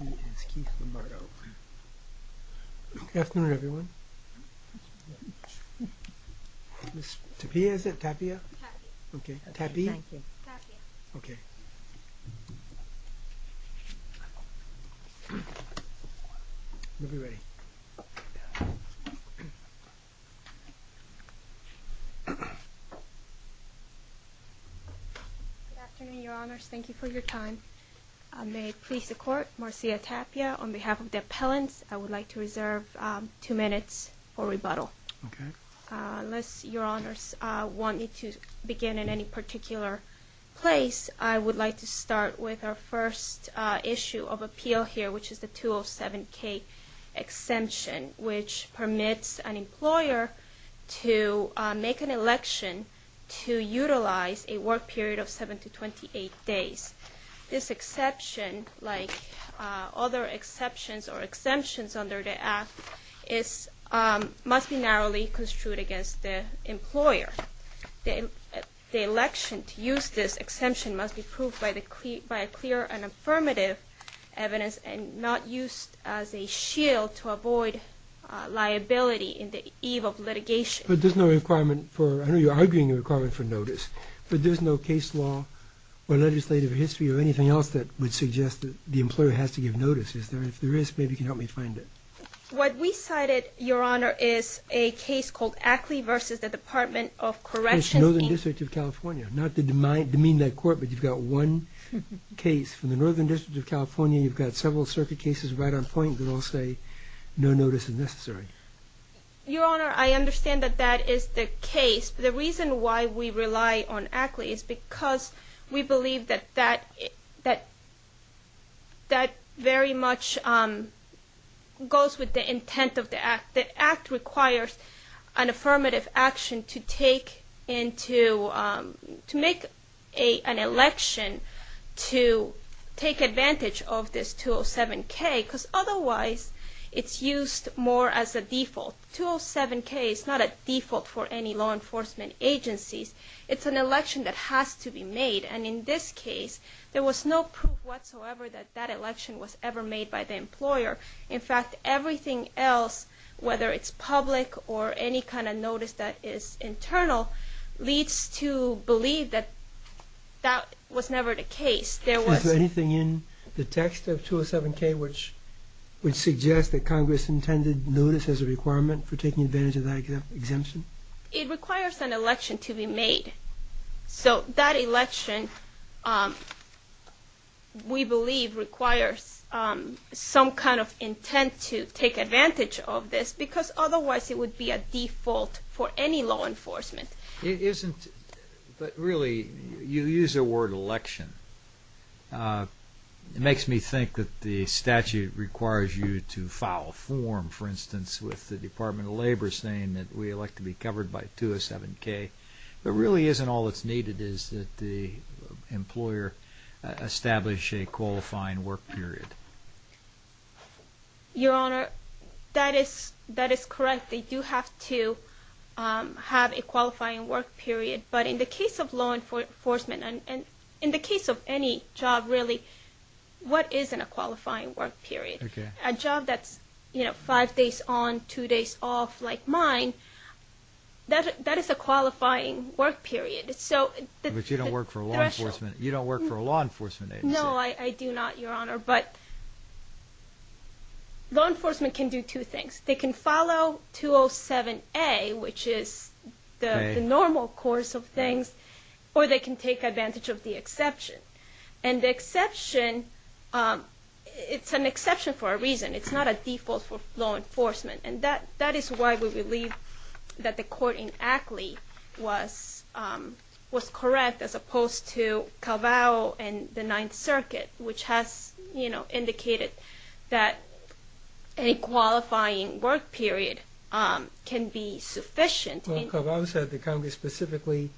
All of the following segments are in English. He is Keith Lombardo. Good afternoon, everyone. Miss Tapia, is that Tapia? Tapia. Okay. Tapia? Tapia. Okay. We'll be ready. Good afternoon, Your Honors. Thank you for your time. May it please the Court, Marcia Tapia, on behalf of the appellants, I would like to reserve two minutes for rebuttal. Okay. Unless Your Honors want me to begin in any particular place, I would like to start with our first issue of appeal here, which is the 207k exemption, which permits an employer to make an election to utilize a work period of 7 to 28 days. This exception, like other exceptions or exemptions under the Act, must be narrowly construed against the employer. The election to use this exemption must be proved by clear and affirmative evidence and not used as a shield to avoid liability in the eve of litigation. But there's no requirement for, I know you're arguing a requirement for notice, but there's no case law or legislative history or anything else that would suggest that the employer has to give notice, is there? If there is, maybe you can help me find it. What we cited, Your Honor, is a case called Ackley versus the Department of Corrections. It's Northern District of California. Not to demean that Court, but you've got one case from the Northern District of California, you've got several circuit cases right on point that all say no notice is necessary. Your Honor, I understand that that is the case. The reason why we rely on Ackley is because we believe that that very much goes with the intent of the Act. The Act requires an affirmative action to make an election to take advantage of this 207K because otherwise it's used more as a default. 207K is not a default for any law enforcement agencies. It's an election that has to be made, and in this case, there was no proof whatsoever that that election was ever made by the employer. In fact, everything else, whether it's public or any kind of notice that is internal, leads to believe that that was never the case. Is there anything in the text of 207K which suggests that Congress intended notice as a requirement for taking advantage of that exemption? It requires an election to be made. So that election, we believe, requires some kind of intent to take advantage of this because otherwise it would be a default for any law enforcement. But really, you use the word election. It makes me think that the statute requires you to file a form, for instance, with the Department of Labor saying that we elect to be covered by 207K. But really isn't all that's needed is that the employer establish a qualifying work period. Your Honor, that is correct. They do have to have a qualifying work period. But in the case of law enforcement and in the case of any job, really, what isn't a qualifying work period? A job that's five days on, two days off like mine, that is a qualifying work period. But you don't work for a law enforcement agency. No, I do not, Your Honor. But law enforcement can do two things. They can follow 207A, which is the normal course of things, or they can take advantage of the exception. And the exception, it's an exception for a reason. It's not a default for law enforcement. And that is why we believe that the court in Ackley was correct as opposed to Calvado and the Ninth Circuit, which has indicated that a qualifying work period can be sufficient. Well, Calvado said that Congress specifically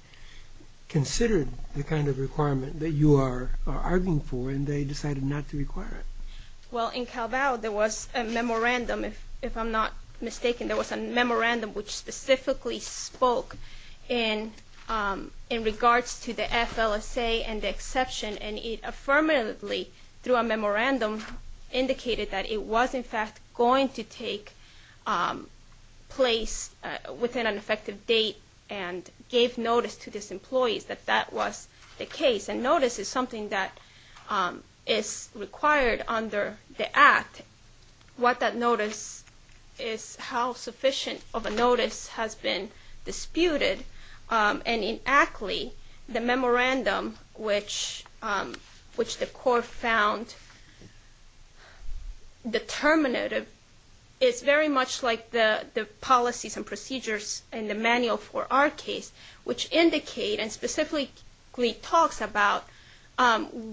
considered the kind of requirement that you are arguing for, and they decided not to require it. Well, in Calvado, there was a memorandum, if I'm not mistaken. There was a memorandum which specifically spoke in regards to the FLSA and the exception. And it affirmatively, through a memorandum, indicated that it was, in fact, going to take place within an effective date and gave notice to these employees that that was the case. And notice is something that is required under the Act. What that notice is how sufficient of a notice has been disputed. And in Ackley, the memorandum, which the court found determinative, is very much like the policies and procedures in the manual for our case, which indicate and specifically talks about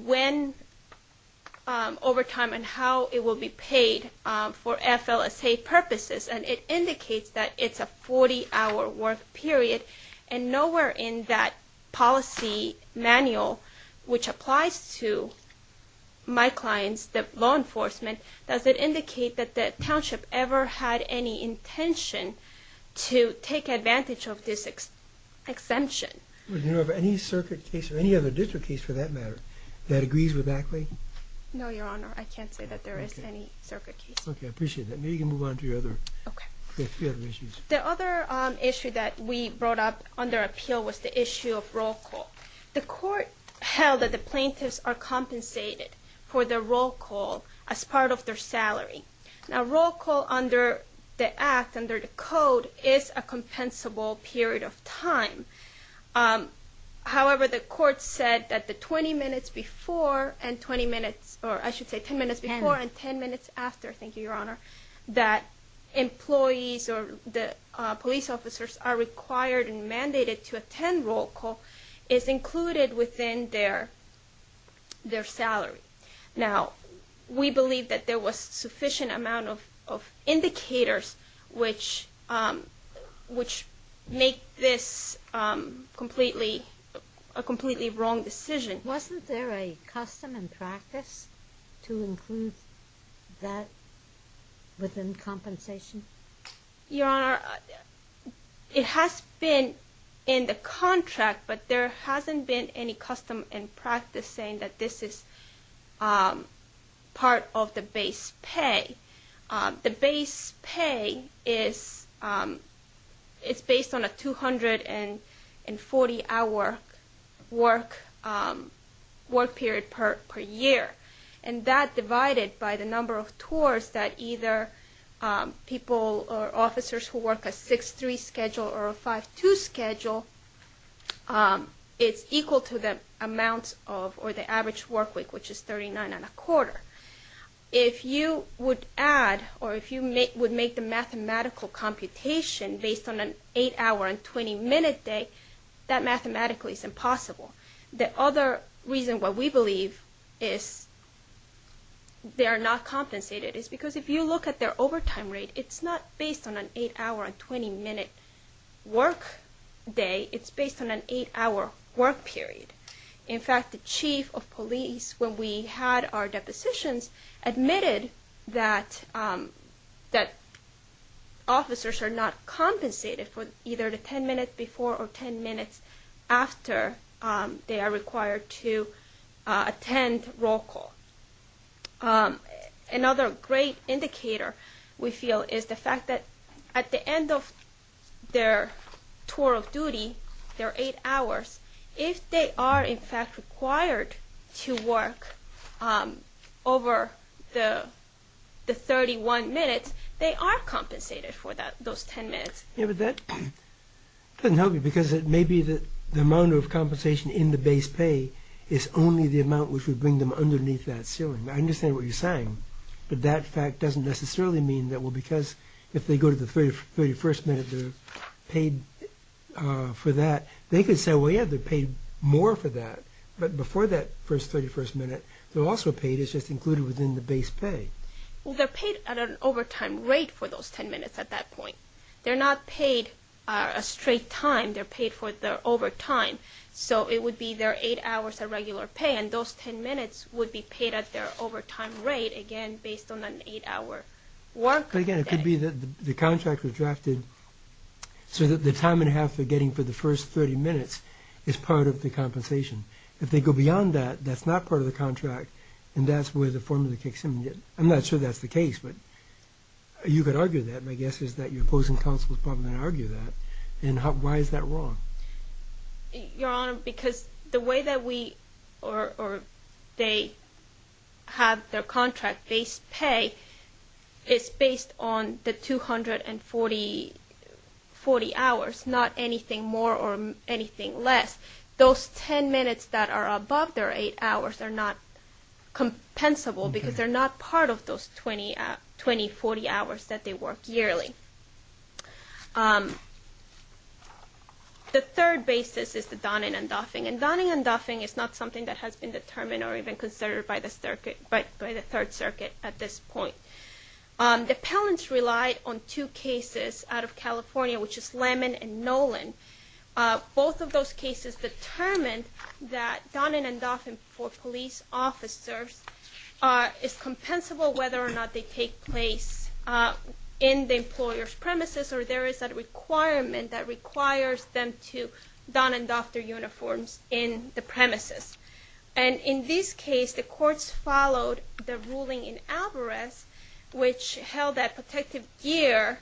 when, over time, and how it will be paid for FLSA purposes. And it indicates that it's a 40-hour work period. And nowhere in that policy manual, which applies to my clients, the law enforcement, does it indicate that the township ever had any intention to take advantage of this exemption. Do you know of any circuit case or any other district case, for that matter, that agrees with Ackley? No, Your Honor. I can't say that there is any circuit case. Okay. I appreciate that. Maybe you can move on to your other issues. The other issue that we brought up under appeal was the issue of roll call. The court held that the plaintiffs are compensated for the roll call as part of their salary. Now, roll call under the Act, under the Code, is a compensable period of time. However, the court said that the 20 minutes before and 20 minutes, or I should say 10 minutes before and 10 minutes after, thank you, Your Honor, that employees or the police officers are required and mandated to attend roll call is included within their salary. Now, we believe that there was sufficient amount of indicators which make this a completely wrong decision. Wasn't there a custom and practice to include that within compensation? Your Honor, it has been in the contract, but there hasn't been any custom and practice saying that this is part of the base pay. The base pay is based on a 240-hour work period per year, and that divided by the number of tours that either people or officers who work a 6-3 schedule or a 5-2 schedule, it's equal to the amount of, or the average work week, which is 39 and a quarter. If you would add, or if you would make the mathematical computation based on an 8-hour and 20-minute day, that mathematically is impossible. The other reason why we believe they are not compensated is because if you look at their overtime rate, it's not based on an 8-hour and 20-minute work day, it's based on an 8-hour work period. In fact, the chief of police, when we had our depositions, admitted that officers are not compensated for either the 10 minutes before or 10 minutes after they are required to attend roll call. Another great indicator, we feel, is the fact that at the end of their tour of duty, their 8 hours, if they are in fact required to work over the 31 minutes, they are compensated for those 10 minutes. Yeah, but that doesn't help you because it may be that the amount of compensation in the base pay is only the amount which would bring them underneath that ceiling. I understand what you're saying, but that fact doesn't necessarily mean that, well, because if they go to the 31st minute, they're paid for that. They could say, well, yeah, they're paid more for that, but before that first 31st minute, they're also paid, it's just included within the base pay. Well, they're paid at an overtime rate for those 10 minutes at that point. They're not paid a straight time, they're paid for their overtime. So it would be their 8 hours of regular pay, and those 10 minutes would be paid at their overtime rate, again, based on an 8-hour work day. But again, it could be that the contract was drafted so that the time and a half they're getting for the first 30 minutes is part of the compensation. If they go beyond that, that's not part of the contract, and that's where the formula kicks in. I'm not sure that's the case, but you could argue that. My guess is that your opposing counsel is probably going to argue that. And why is that wrong? Your Honor, because the way that we – or they have their contract base pay is based on the 240 hours, not anything more or anything less. Those 10 minutes that are above their 8 hours are not compensable because they're not part of those 20, 40 hours that they work yearly. The third basis is the Donning and Duffing, and Donning and Duffing is not something that has been determined or even considered by the Third Circuit at this point. The appellants relied on two cases out of California, which is Lemon and Nolan. Both of those cases determined that Donning and Duffing for police officers is compensable whether or not they take place in the employer's premises or there is a requirement that requires them to Don and Duff their uniforms in the premises. And in this case, the courts followed the ruling in Alvarez, which held that protective gear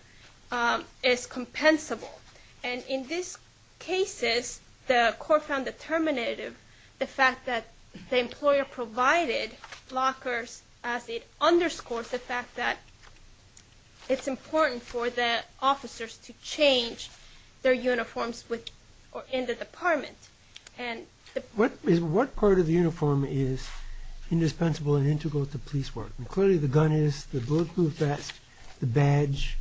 is compensable. And in these cases, the court found determinative the fact that the employer provided lockers as it underscores the fact that it's important for the officers to change their uniforms in the department. What part of the uniform is indispensable and integral to police work? Clearly the gun is, the bulletproof vest, the badge.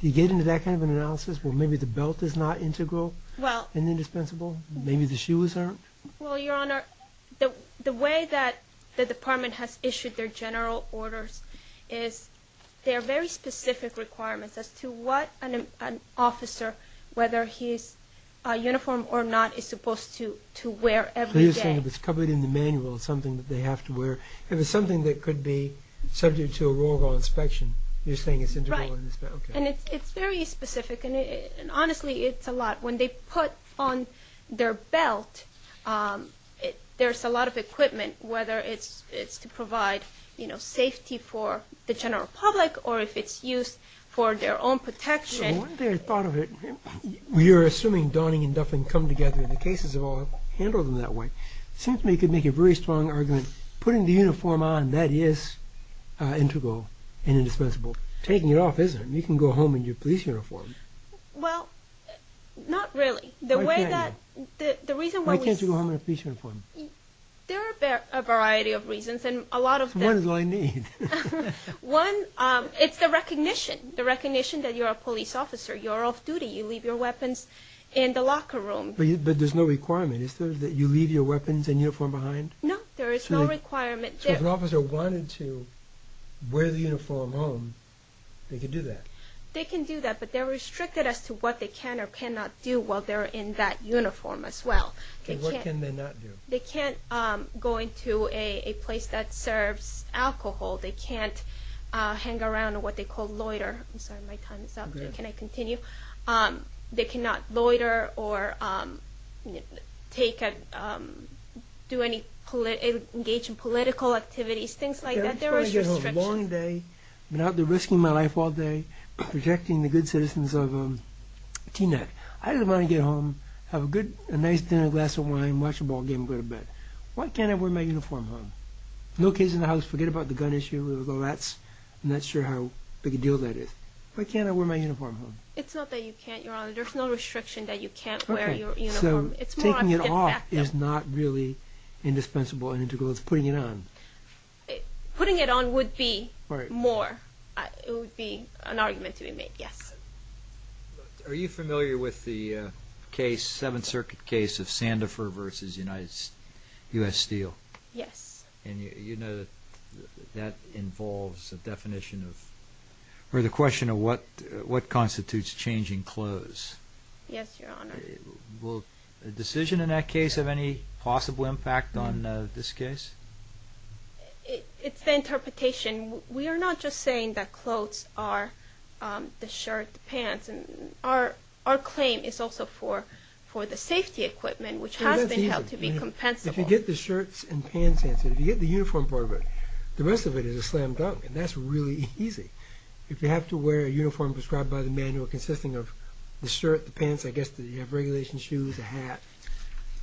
Do you get into that kind of an analysis where maybe the belt is not integral and indispensable? Maybe the shoes aren't? Well, Your Honor, the way that the department has issued their general orders is they're very specific requirements as to what an officer, whether he's a uniform or not, is supposed to wear every day. So you're saying if it's covered in the manual, it's something that they have to wear. If it's something that could be subject to a roll call inspection, you're saying it's integral? Right. And it's very specific. And honestly, it's a lot. When they put on their belt, there's a lot of equipment, whether it's to provide safety for the general public or if it's used for their own protection. One day I thought of it, we are assuming Donning and Duffin come together in the cases of all, handle them that way. Seems to me you could make a very strong argument, putting the uniform on, that is integral and indispensable. Taking it off isn't. You can go home in your police uniform. Well, not really. Why can't you? The reason why we... Why can't you go home in a police uniform? There are a variety of reasons. One is what I need. One, it's the recognition. The recognition that you're a police officer. You're off duty. You leave your weapons in the locker room. But there's no requirement, is there, that you leave your weapons and uniform behind? No, there is no requirement. So if an officer wanted to wear the uniform home, they could do that? They can do that, but they're restricted as to what they can or cannot do while they're in that uniform as well. And what can they not do? They can't go into a place that serves alcohol. They can't hang around what they call loiter. I'm sorry, my time is up. Can I continue? They cannot loiter or engage in political activities, things like that. There is restriction. I didn't want to get home a long day, been out there risking my life all day, protecting the good citizens of Teaneck. I didn't want to get home, have a nice dinner, a glass of wine, watch a ball game and go to bed. Why can't I wear my uniform home? No kids in the house, forget about the gun issue. I'm not sure how big a deal that is. Why can't I wear my uniform home? It's not that you can't, Your Honor. There's no restriction that you can't wear your uniform. So taking it off is not really indispensable and integral. It's putting it on. Putting it on would be more. It would be an argument to be made, yes. Are you familiar with the case, Seventh Circuit case of Sandifer v. U.S. Steel? Yes. And you know that that involves a definition of, or the question of what constitutes changing clothes? Yes, Your Honor. Will a decision in that case have any possible impact on this case? It's the interpretation. We are not just saying that clothes are the shirt, the pants. Our claim is also for the safety equipment, which has been held to be compensable. If you get the shirts and pants answer, if you get the uniform part of it, the rest of it is a slam dunk. And that's really easy. If you have to wear a uniform prescribed by the manual consisting of the shirt, the pants, I guess you have regulation shoes, a hat,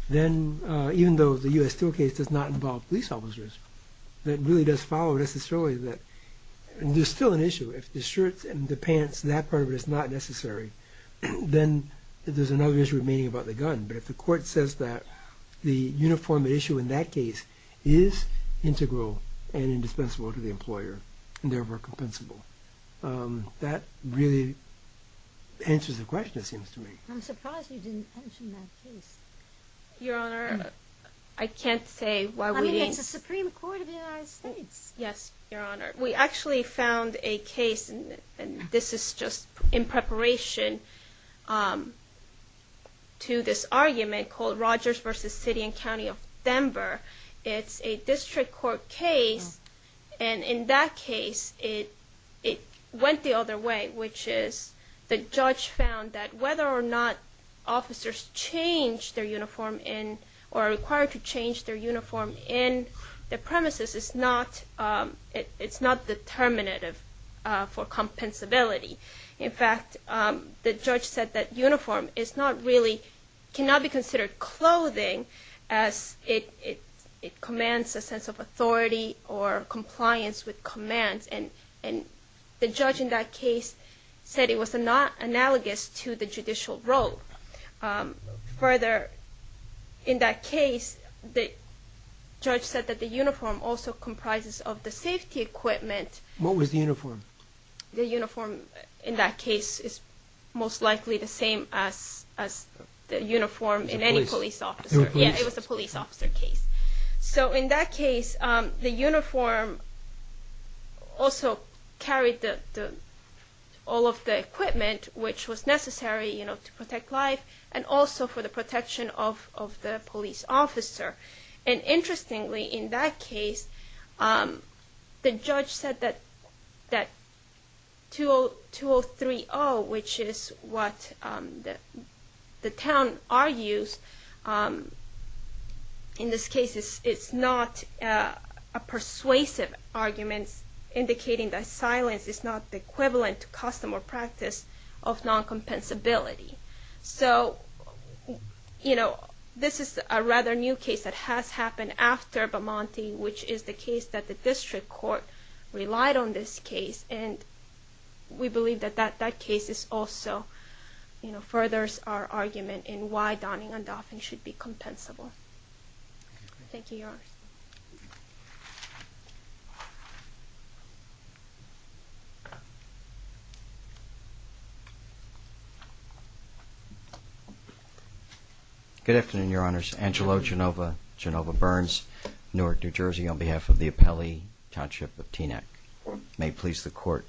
then even though the U.S. Steel case does not involve police officers, that really does follow necessarily that there's still an issue. If the shirts and the pants, that part of it is not necessary, then there's another issue remaining about the gun. But if the court says that the uniform issue in that case is integral and indispensable to the employer and therefore compensable, that really answers the question, it seems to me. I'm surprised you didn't mention that case. Your Honor, I can't say why we didn't. I mean, it's the Supreme Court of the United States. Yes, Your Honor. We actually found a case, and this is just in preparation to this argument called Rogers v. City and County of Denver. It's a district court case, and in that case it went the other way, which is the judge found that whether or not officers change their uniform or are required to change their uniform in the premises, it's not determinative for compensability. In fact, the judge said that uniform cannot be considered clothing as it commands a sense of authority or compliance with commands, and the judge in that case said it was not analogous to the judicial role. Further, in that case, the judge said that the uniform also comprises of the safety equipment. What was the uniform? The uniform in that case is most likely the same as the uniform in any police officer. It was a police officer case. So in that case, the uniform also carried all of the equipment which was necessary to protect life and also for the protection of the police officer. And interestingly, in that case, the judge said that 2030, which is what the town argues in this case, is not a persuasive argument indicating that silence is not the equivalent to custom or practice of non-compensability. So, you know, this is a rather new case that has happened after Bamante, which is the case that the district court relied on this case, and we believe that that case also furthers our argument in why donning and doffing should be compensable. Good afternoon, Your Honors. Angelo Genova, Genova Burns, Newark, New Jersey, on behalf of the Apelli Township of Teaneck. May it please the Court.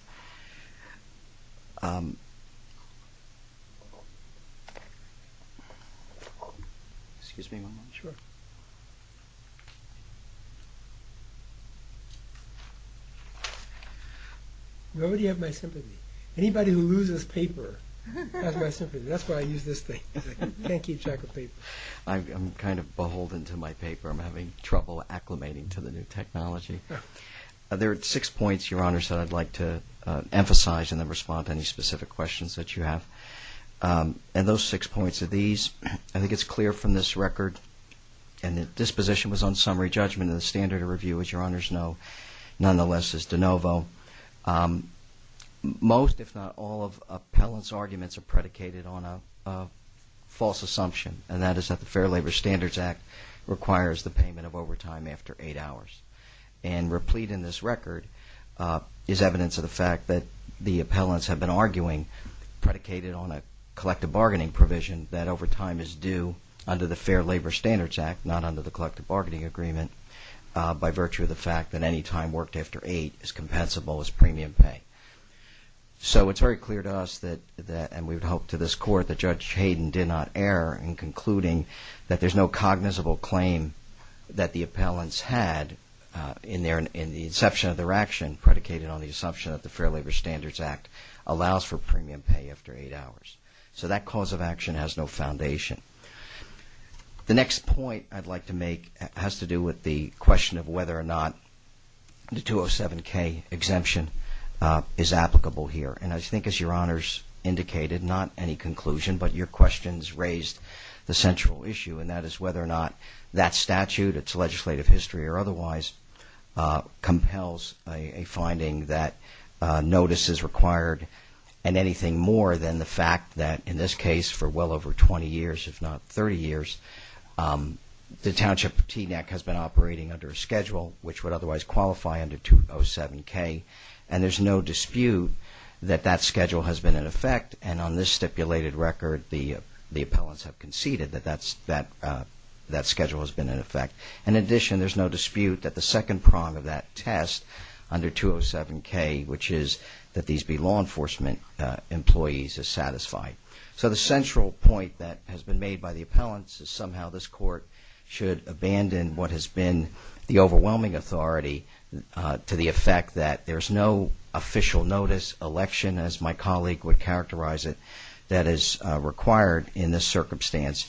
Nobody have my sympathy. Anybody who loses paper has my sympathy. That's why I use this thing. I can't keep track of paper. I'm kind of beholden to my paper. I'm having trouble acclimating to the new technology. There are six points, Your Honors, that I'd like to emphasize and then respond to any specific questions that you have. And those six points are these. I think it's clear from this record, and this position was on summary judgment and the standard of review, as Your Honors know, nonetheless, is de novo. Most, if not all, of appellants' arguments are predicated on a false assumption, and that is that the Fair Labor Standards Act requires the payment of overtime after eight hours. And replete in this record is evidence of the fact that the appellants have been arguing, predicated on a collective bargaining provision, that overtime is due under the Fair Labor Standards Act, not under the collective bargaining agreement, by virtue of the fact that any time worked after eight is compensable as premium pay. So it's very clear to us, and we would hope to this Court, that Judge Hayden did not err in concluding that there's no cognizable claim that the appellants had in the inception of their action predicated on the assumption that the Fair Labor Standards Act allows for premium pay after eight hours. So that cause of action has no foundation. The next point I'd like to make has to do with the question of whether or not the 207k exemption is applicable here. And I think, as Your Honors indicated, not any conclusion, but your questions raised the central issue, and that is whether or not that statute, its legislative history or otherwise, compels a finding that notice is required, and anything more than the fact that, in this case, for well over 20 years, if not 30 years, the Township of Teaneck has been operating under a schedule which would otherwise qualify under 207k. And there's no dispute that that schedule has been in effect, and on this stipulated record, the appellants have conceded that that schedule has been in effect. And in addition, there's no dispute that the second prong of that test under 207k, which is that these be law enforcement employees, is satisfied. So the central point that has been made by the appellants is somehow this court should abandon what has been the overwhelming authority to the effect that there's no official notice election, as my colleague would characterize it, that is required in this circumstance.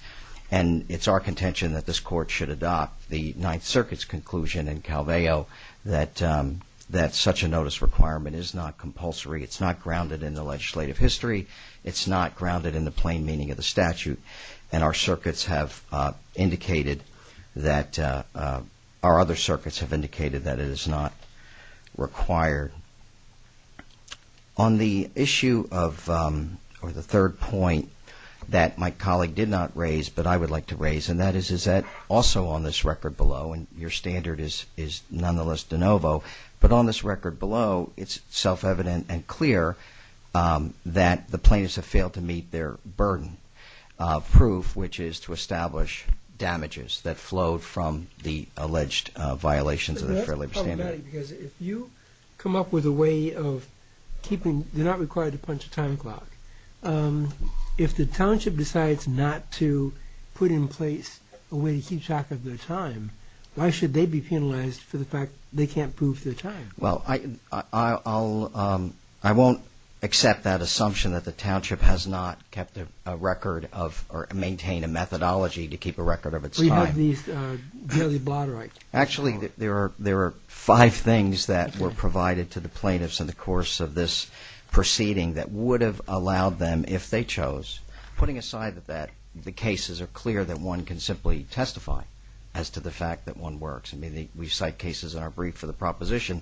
And it's our contention that this court should adopt the Ninth Circuit's conclusion in Calveo that such a notice requirement is not compulsory, it's not grounded in the legislative history, it's not grounded in the plain meaning of the statute, and our other circuits have indicated that it is not required. On the issue of the third point that my colleague did not raise, but I would like to raise, and that is that also on this record below, and your standard is nonetheless de novo, but on this record below, it's self-evident and clear that the plaintiffs have failed to meet their burden of proof, which is to establish damages that flowed from the alleged violations of the Fair Labor Standards. I'm just curious about it, because if you come up with a way of keeping, they're not required to punch a time clock, if the township decides not to put in place a way to keep track of their time, why should they be penalized for the fact they can't prove their time? Well, I won't accept that assumption that the township has not kept a record of or maintained a methodology to keep a record of its time. We have these daily blotter acts. Actually, there are five things that were provided to the plaintiffs in the course of this proceeding that would have allowed them, if they chose, putting aside that the cases are clear that one can simply testify as to the fact that one works. I mean, we cite cases in our brief for the proposition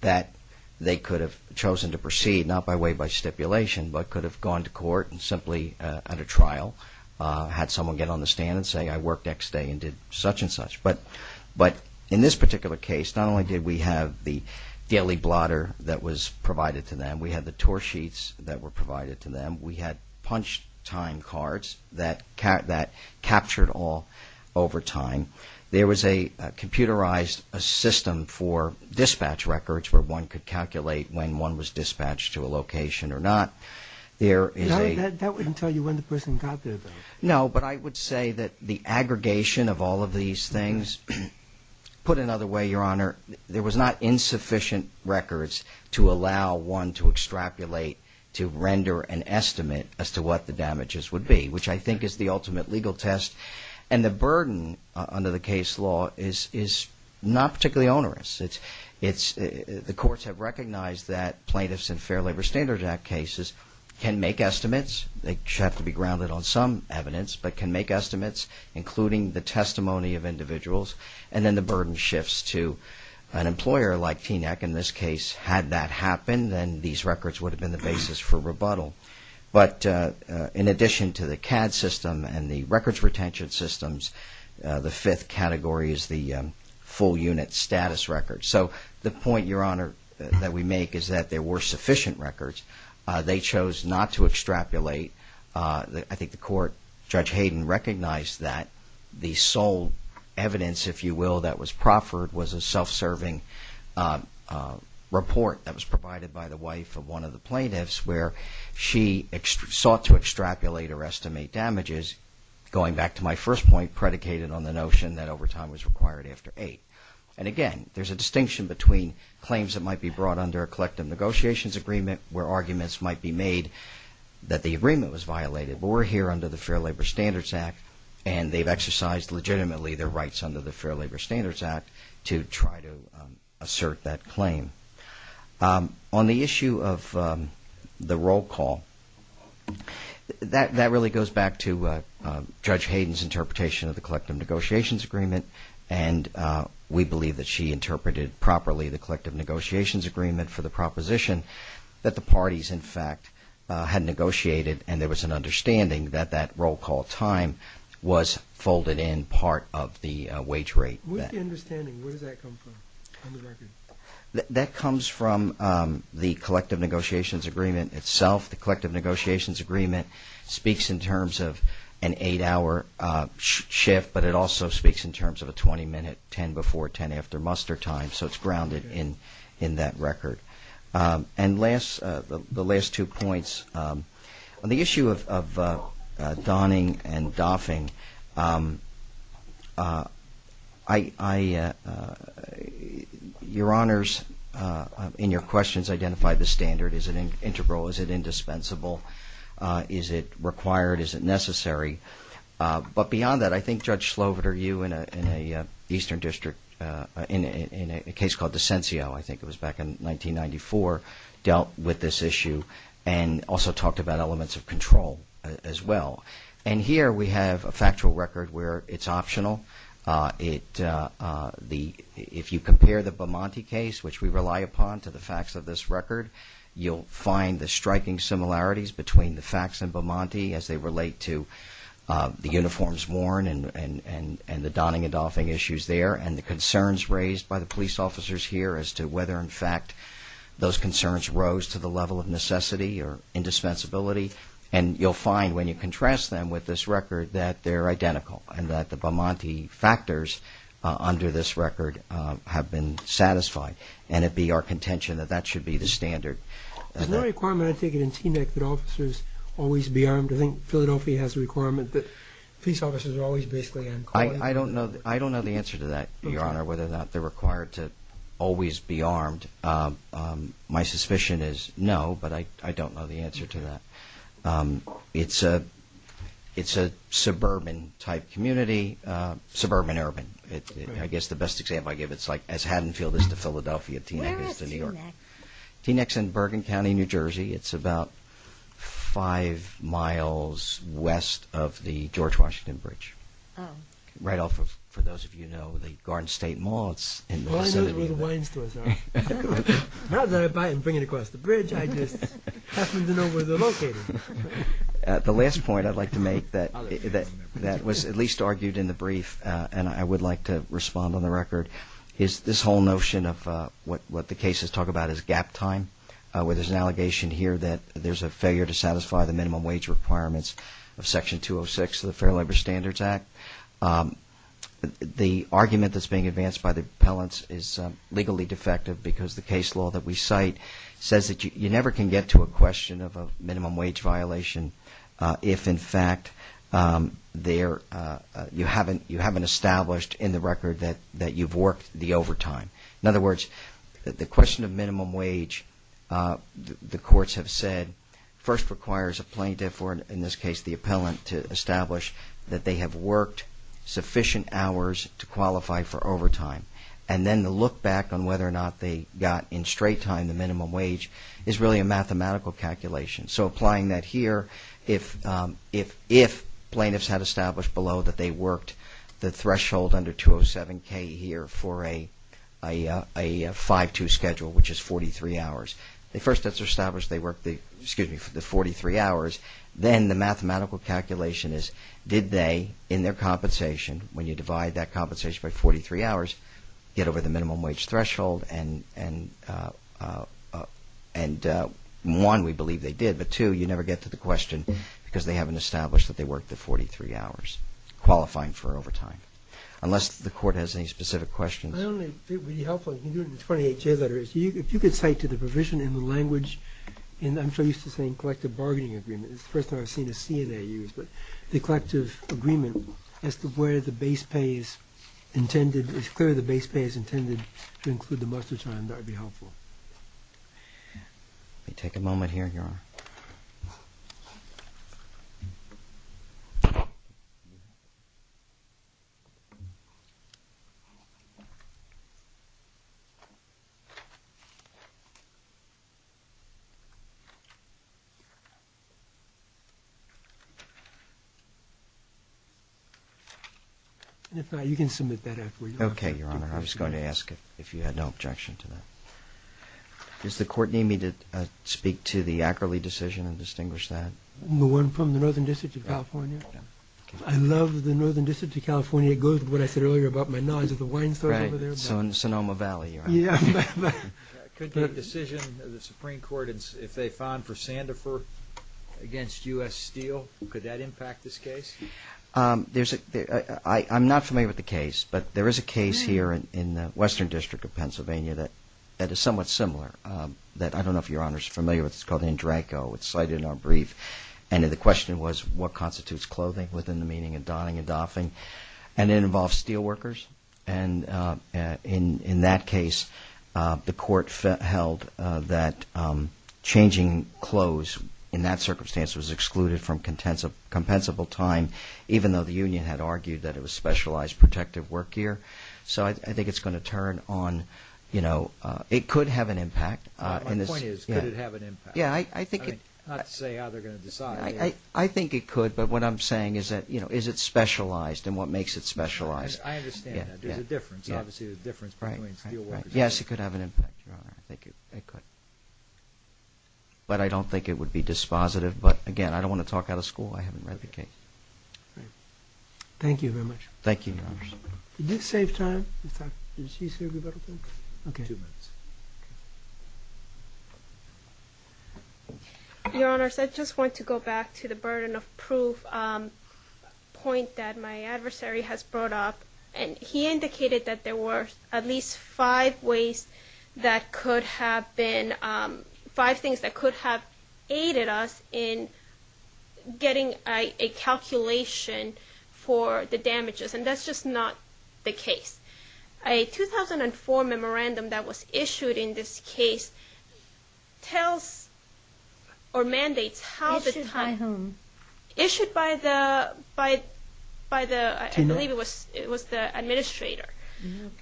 that they could have chosen to proceed not by way by stipulation, but could have gone to court and simply at a trial had someone get on the stand and say, I worked next day and did such and such. But in this particular case, not only did we have the daily blotter that was provided to them, we had the tour sheets that were provided to them, we had punch time cards that captured all over time. There was a computerized system for dispatch records where one could calculate when one was dispatched to a location or not. That wouldn't tell you when the person got there, though. No, but I would say that the aggregation of all of these things, put another way, Your Honor, there was not insufficient records to allow one to extrapolate, to render an estimate as to what the damages would be, which I think is the ultimate legal test. And the burden under the case law is not particularly onerous. The courts have recognized that plaintiffs in Fair Labor Standards Act cases can make estimates. They have to be grounded on some evidence, but can make estimates, including the testimony of individuals, and then the burden shifts to an employer like TNAC. In this case, had that happened, then these records would have been the basis for rebuttal. But in addition to the CAD system and the records retention systems, the fifth category is the full unit status record. So the point, Your Honor, that we make is that there were sufficient records. They chose not to extrapolate. I think the court, Judge Hayden, recognized that the sole evidence, if you will, that was proffered was a self-serving report that was provided by the wife of one of the plaintiffs where she sought to extrapolate or estimate damages, going back to my first point predicated on the notion that overtime was required after 8. And again, there's a distinction between claims that might be brought under a collective negotiations agreement where arguments might be made that the agreement was violated, but we're here under the Fair Labor Standards Act and they've exercised legitimately their rights under the Fair Labor Standards Act to try to assert that claim. On the issue of the roll call, that really goes back to Judge Hayden's interpretation of the collective negotiations agreement and we believe that she interpreted properly the collective negotiations agreement for the proposition that the parties, in fact, had negotiated and there was an understanding that that roll call time was folded in part of the wage rate. What is the understanding? Where does that come from on the record? That comes from the collective negotiations agreement itself. The collective negotiations agreement speaks in terms of an 8-hour shift, but it also speaks in terms of a 20-minute 10 before 10 after muster time, so it's grounded in that record. And the last two points, on the issue of donning and doffing, your honors in your questions identify the standard. Is it integral? Is it indispensable? Is it required? Is it necessary? But beyond that, I think Judge Sloviter, you in an Eastern District, in a case called Desencio, I think it was back in 1994, dealt with this issue and also talked about elements of control as well. And here we have a factual record where it's optional. If you compare the Bomanti case, which we rely upon, to the facts of this record, you'll find the striking similarities between the facts in Bomanti as they relate to the uniforms worn and the donning and doffing issues there and the concerns raised by the police officers here as to whether, in fact, those concerns rose to the level of necessity or indispensability. And you'll find when you contrast them with this record that they're identical and that the Bomanti factors under this record have been satisfied. And it be our contention that that should be the standard. Is there a requirement, I take it, in TNIC that officers always be armed? I think Philadelphia has a requirement that police officers are always basically uncalled for. I don't know the answer to that, your honor, whether or not they're required to always be armed. My suspicion is no, but I don't know the answer to that. It's a suburban-type community, suburban-urban. I guess the best example I give is as Haddonfield is to Philadelphia, TNIC is to New York. Where is TNIC? TNIC is in Bergen County, New Jersey. It's about five miles west of the George Washington Bridge. Right off of, for those of you who know, the Garden State Mall. All I know is where the wine stores are. Now that I buy and bring it across the bridge, I just happen to know where they're located. The last point I'd like to make that was at least argued in the brief, and I would like to respond on the record, is this whole notion of what the cases talk about as gap time, where there's an allegation here that there's a failure to satisfy the minimum wage requirements of Section 206 of the Fair Labor Standards Act. The argument that's being advanced by the appellants is legally defective because the case law that we cite says that you never can get to a question of a minimum wage violation if, in fact, you haven't established in the record that you've worked the overtime. In other words, the question of minimum wage, the courts have said, first requires a plaintiff or, in this case, the appellant to establish that they have worked sufficient hours to qualify for overtime, and then to look back on whether or not they got in straight time the minimum wage is really a mathematical calculation. So applying that here, if plaintiffs had established below that they worked the threshold under 207k here for a 5-2 schedule, which is 43 hours, they first have to establish they worked the 43 hours, then the mathematical calculation is did they, in their compensation, when you divide that compensation by 43 hours, get over the minimum wage threshold, and one, we believe they did, but two, you never get to the question because they haven't established that they worked the 43 hours qualifying for overtime. Unless the Court has any specific questions. It would be helpful if you could cite to the provision in the language and I'm so used to saying collective bargaining agreement. It's the first time I've seen a CNA use, but the collective agreement as to where the base pay is intended, it's clear the base pay is intended to include the muster time. That would be helpful. Take a moment here, Your Honor. And if not, you can submit that after you're done. Okay, Your Honor. I was going to ask if you had no objection to that. Does the Court need me to speak to the Ackerley decision and distinguish that? The one from the Northern District of California? I love the Northern District of California. It goes with what I said earlier about my knowledge of the wine stores over there. Right, so in the Sonoma Valley, Your Honor. Yeah. Could the decision of the Supreme Court, if they found for Sandifer against U.S. Steel, could that impact this case? I'm not familiar with the case, but there is a case here in the Western District of Pennsylvania that is somewhat similar. I don't know if Your Honor is familiar with it. It's called Andranko. It's cited in our brief. And the question was what constitutes clothing within the meaning of donning and doffing. And it involves steel workers. And in that case, the Court held that changing clothes in that circumstance was excluded from compensable time, even though the union had argued that it was specialized protective work gear. So I think it's going to turn on, you know, it could have an impact. My point is, could it have an impact? Yeah, I think it could. Not to say how they're going to decide. I think it could. But what I'm saying is that, you know, is it specialized and what makes it specialized? I understand that. There's a difference. Obviously, there's a difference between steel workers. Yes, it could have an impact, Your Honor. I think it could. But I don't think it would be dispositive. But, again, I don't want to talk out of school. I haven't read the case. Thank you very much. Thank you, Your Honor. Did this save time? Did she say a little bit? Okay. Two minutes. Your Honor, I just want to go back to the burden of proof point that my adversary has brought up. And he indicated that there were at least five ways that could have been, five things that could have aided us in getting a calculation for the damages. A 2004 memorandum that was issued in this case tells or mandates how the time... Issued by whom? Issued by the, I believe it was the administrator.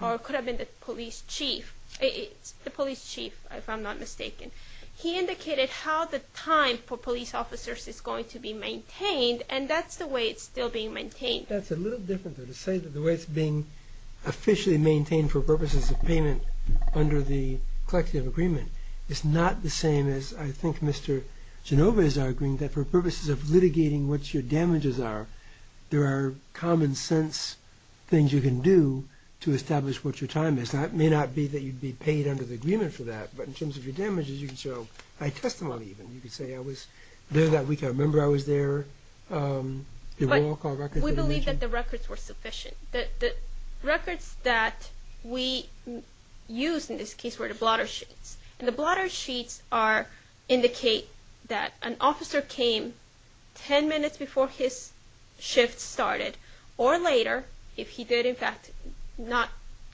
Or it could have been the police chief. The police chief, if I'm not mistaken. He indicated how the time for police officers is going to be maintained, and that's the way it's still being maintained. That's a little different, though. To say that the way it's being officially maintained for purposes of payment under the collective agreement is not the same as I think Mr. Genova is arguing that for purposes of litigating what your damages are, there are common sense things you can do to establish what your time is. Now, it may not be that you'd be paid under the agreement for that, but in terms of your damages, you can show high testimony even. You can say I was there that week. I remember I was there. We believe that the records were sufficient. The records that we used in this case were the blotter sheets. And the blotter sheets indicate that an officer came 10 minutes before his shift started, or later, if he did in fact not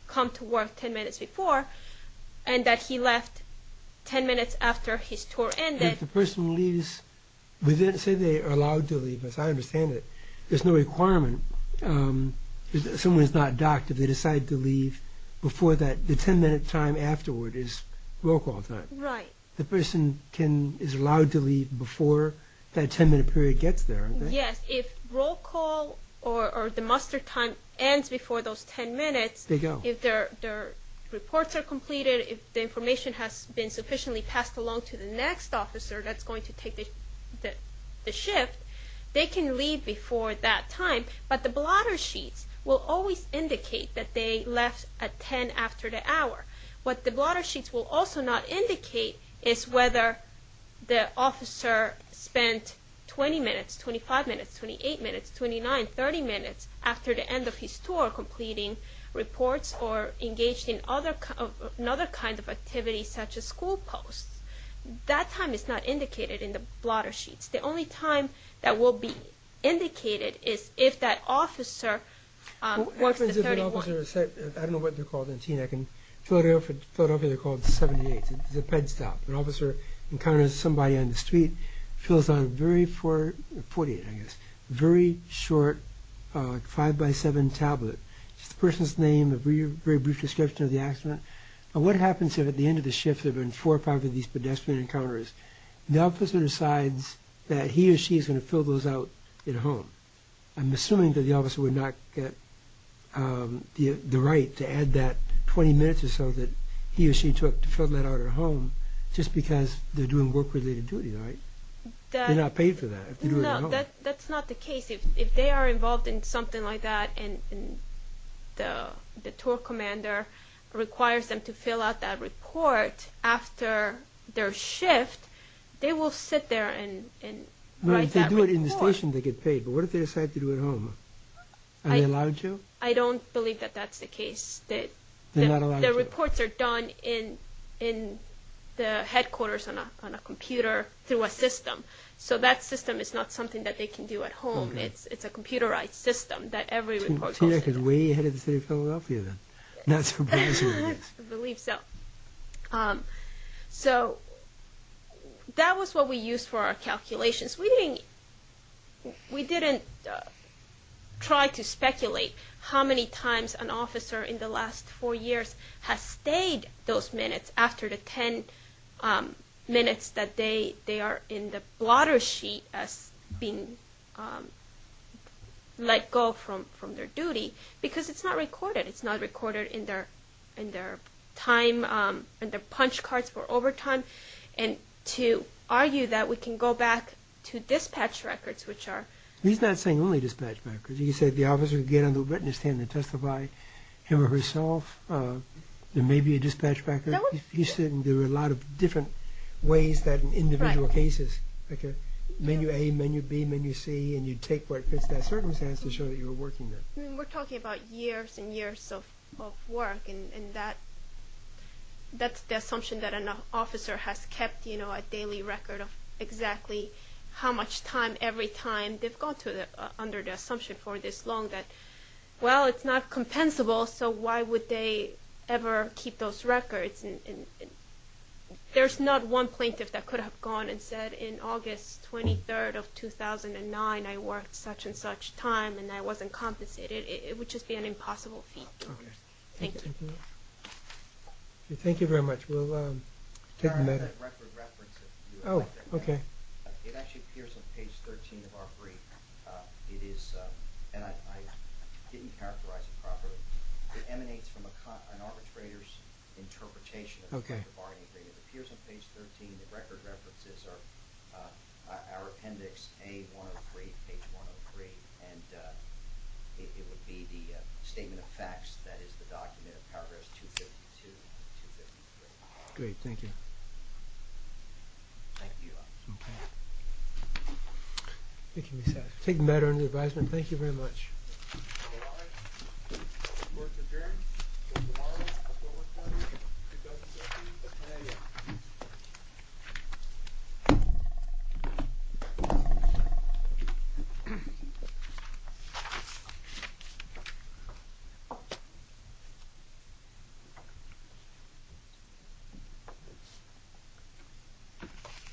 come to work 10 minutes before, and that he left 10 minutes after his tour ended. If the person leaves, we didn't say they are allowed to leave. As I understand it, there's no requirement. Someone is not doctored. They decide to leave before that. The 10-minute time afterward is roll call time. Right. The person is allowed to leave before that 10-minute period gets there. Yes. If roll call or the muster time ends before those 10 minutes, if their reports are completed, if the information has been sufficiently passed along to the next officer that's going to take the shift, they can leave before that time. But the blotter sheets will always indicate that they left at 10 after the hour. What the blotter sheets will also not indicate is whether the officer spent 20 minutes, 25 minutes, 28 minutes, 29, 30 minutes after the end of his tour completing reports or engaged in another kind of activity such as school posts. That time is not indicated in the blotter sheets. The only time that will be indicated is if that officer was the 31st. I don't know what they're called in Teaneck. In Philadelphia, they're called 78s. It's a ped stop. An officer encounters somebody on the street, fills out a very short 5x7 tablet. It's the person's name, a very brief description of the accident. What happens if at the end of the shift there have been four or five of these pedestrian encounters? The officer decides that he or she is going to fill those out at home. I'm assuming that the officer would not get the right to add that 20 minutes or so that he or she took to fill that out at home just because they're doing work-related duties, right? They're not paid for that. No, that's not the case. If they are involved in something like that and the tour commander requires them to fill out that report after their shift, they will sit there and write that report. If they do it in the station, they get paid. But what if they decide to do it at home? Are they allowed to? I don't believe that that's the case. They're not allowed to. The reports are done in the headquarters on a computer through a system. So that system is not something that they can do at home. It's a computerized system that every report goes through. TINAC is way ahead of the city of Philadelphia then. I believe so. So that was what we used for our calculations. We didn't try to speculate how many times an officer in the last four years has stayed those minutes after the ten minutes that they are in the blotter sheet as being let go from their duty because it's not recorded. It's not recorded in their time, in their punch cards for overtime. And to argue that we can go back to dispatch records, which are... He's not saying only dispatch records. He said the officer would get on the witness stand and testify him or herself. There may be a dispatch record. He said there were a lot of different ways that in individual cases, like a menu A, menu B, menu C, and you take what fits that circumstance to show that you were working there. We're talking about years and years of work, and that's the assumption that an officer has kept, you know, a daily record of exactly how much time every time they've gone under the assumption for this long that, well, it's not compensable, so why would they ever keep those records? And there's not one plaintiff that could have gone and said, in August 23rd of 2009, I worked such and such time, and I wasn't compensated. It would just be an impossible feat. Okay. Thank you. Thank you. Thank you very much. We'll take a minute. I have a record reference that you have right there. Oh, okay. It actually appears on page 13 of our brief. It is, and I didn't characterize it properly, it emanates from an arbitrator's interpretation. Okay. It appears on page 13. The record reference is our appendix A103, page 103, and it would be the statement of facts that is the document of paragraphs 252 and 253. Great. Thank you. Thank you. Okay. It's making me sad. I'll take a minute on your advisement. Thank you very much.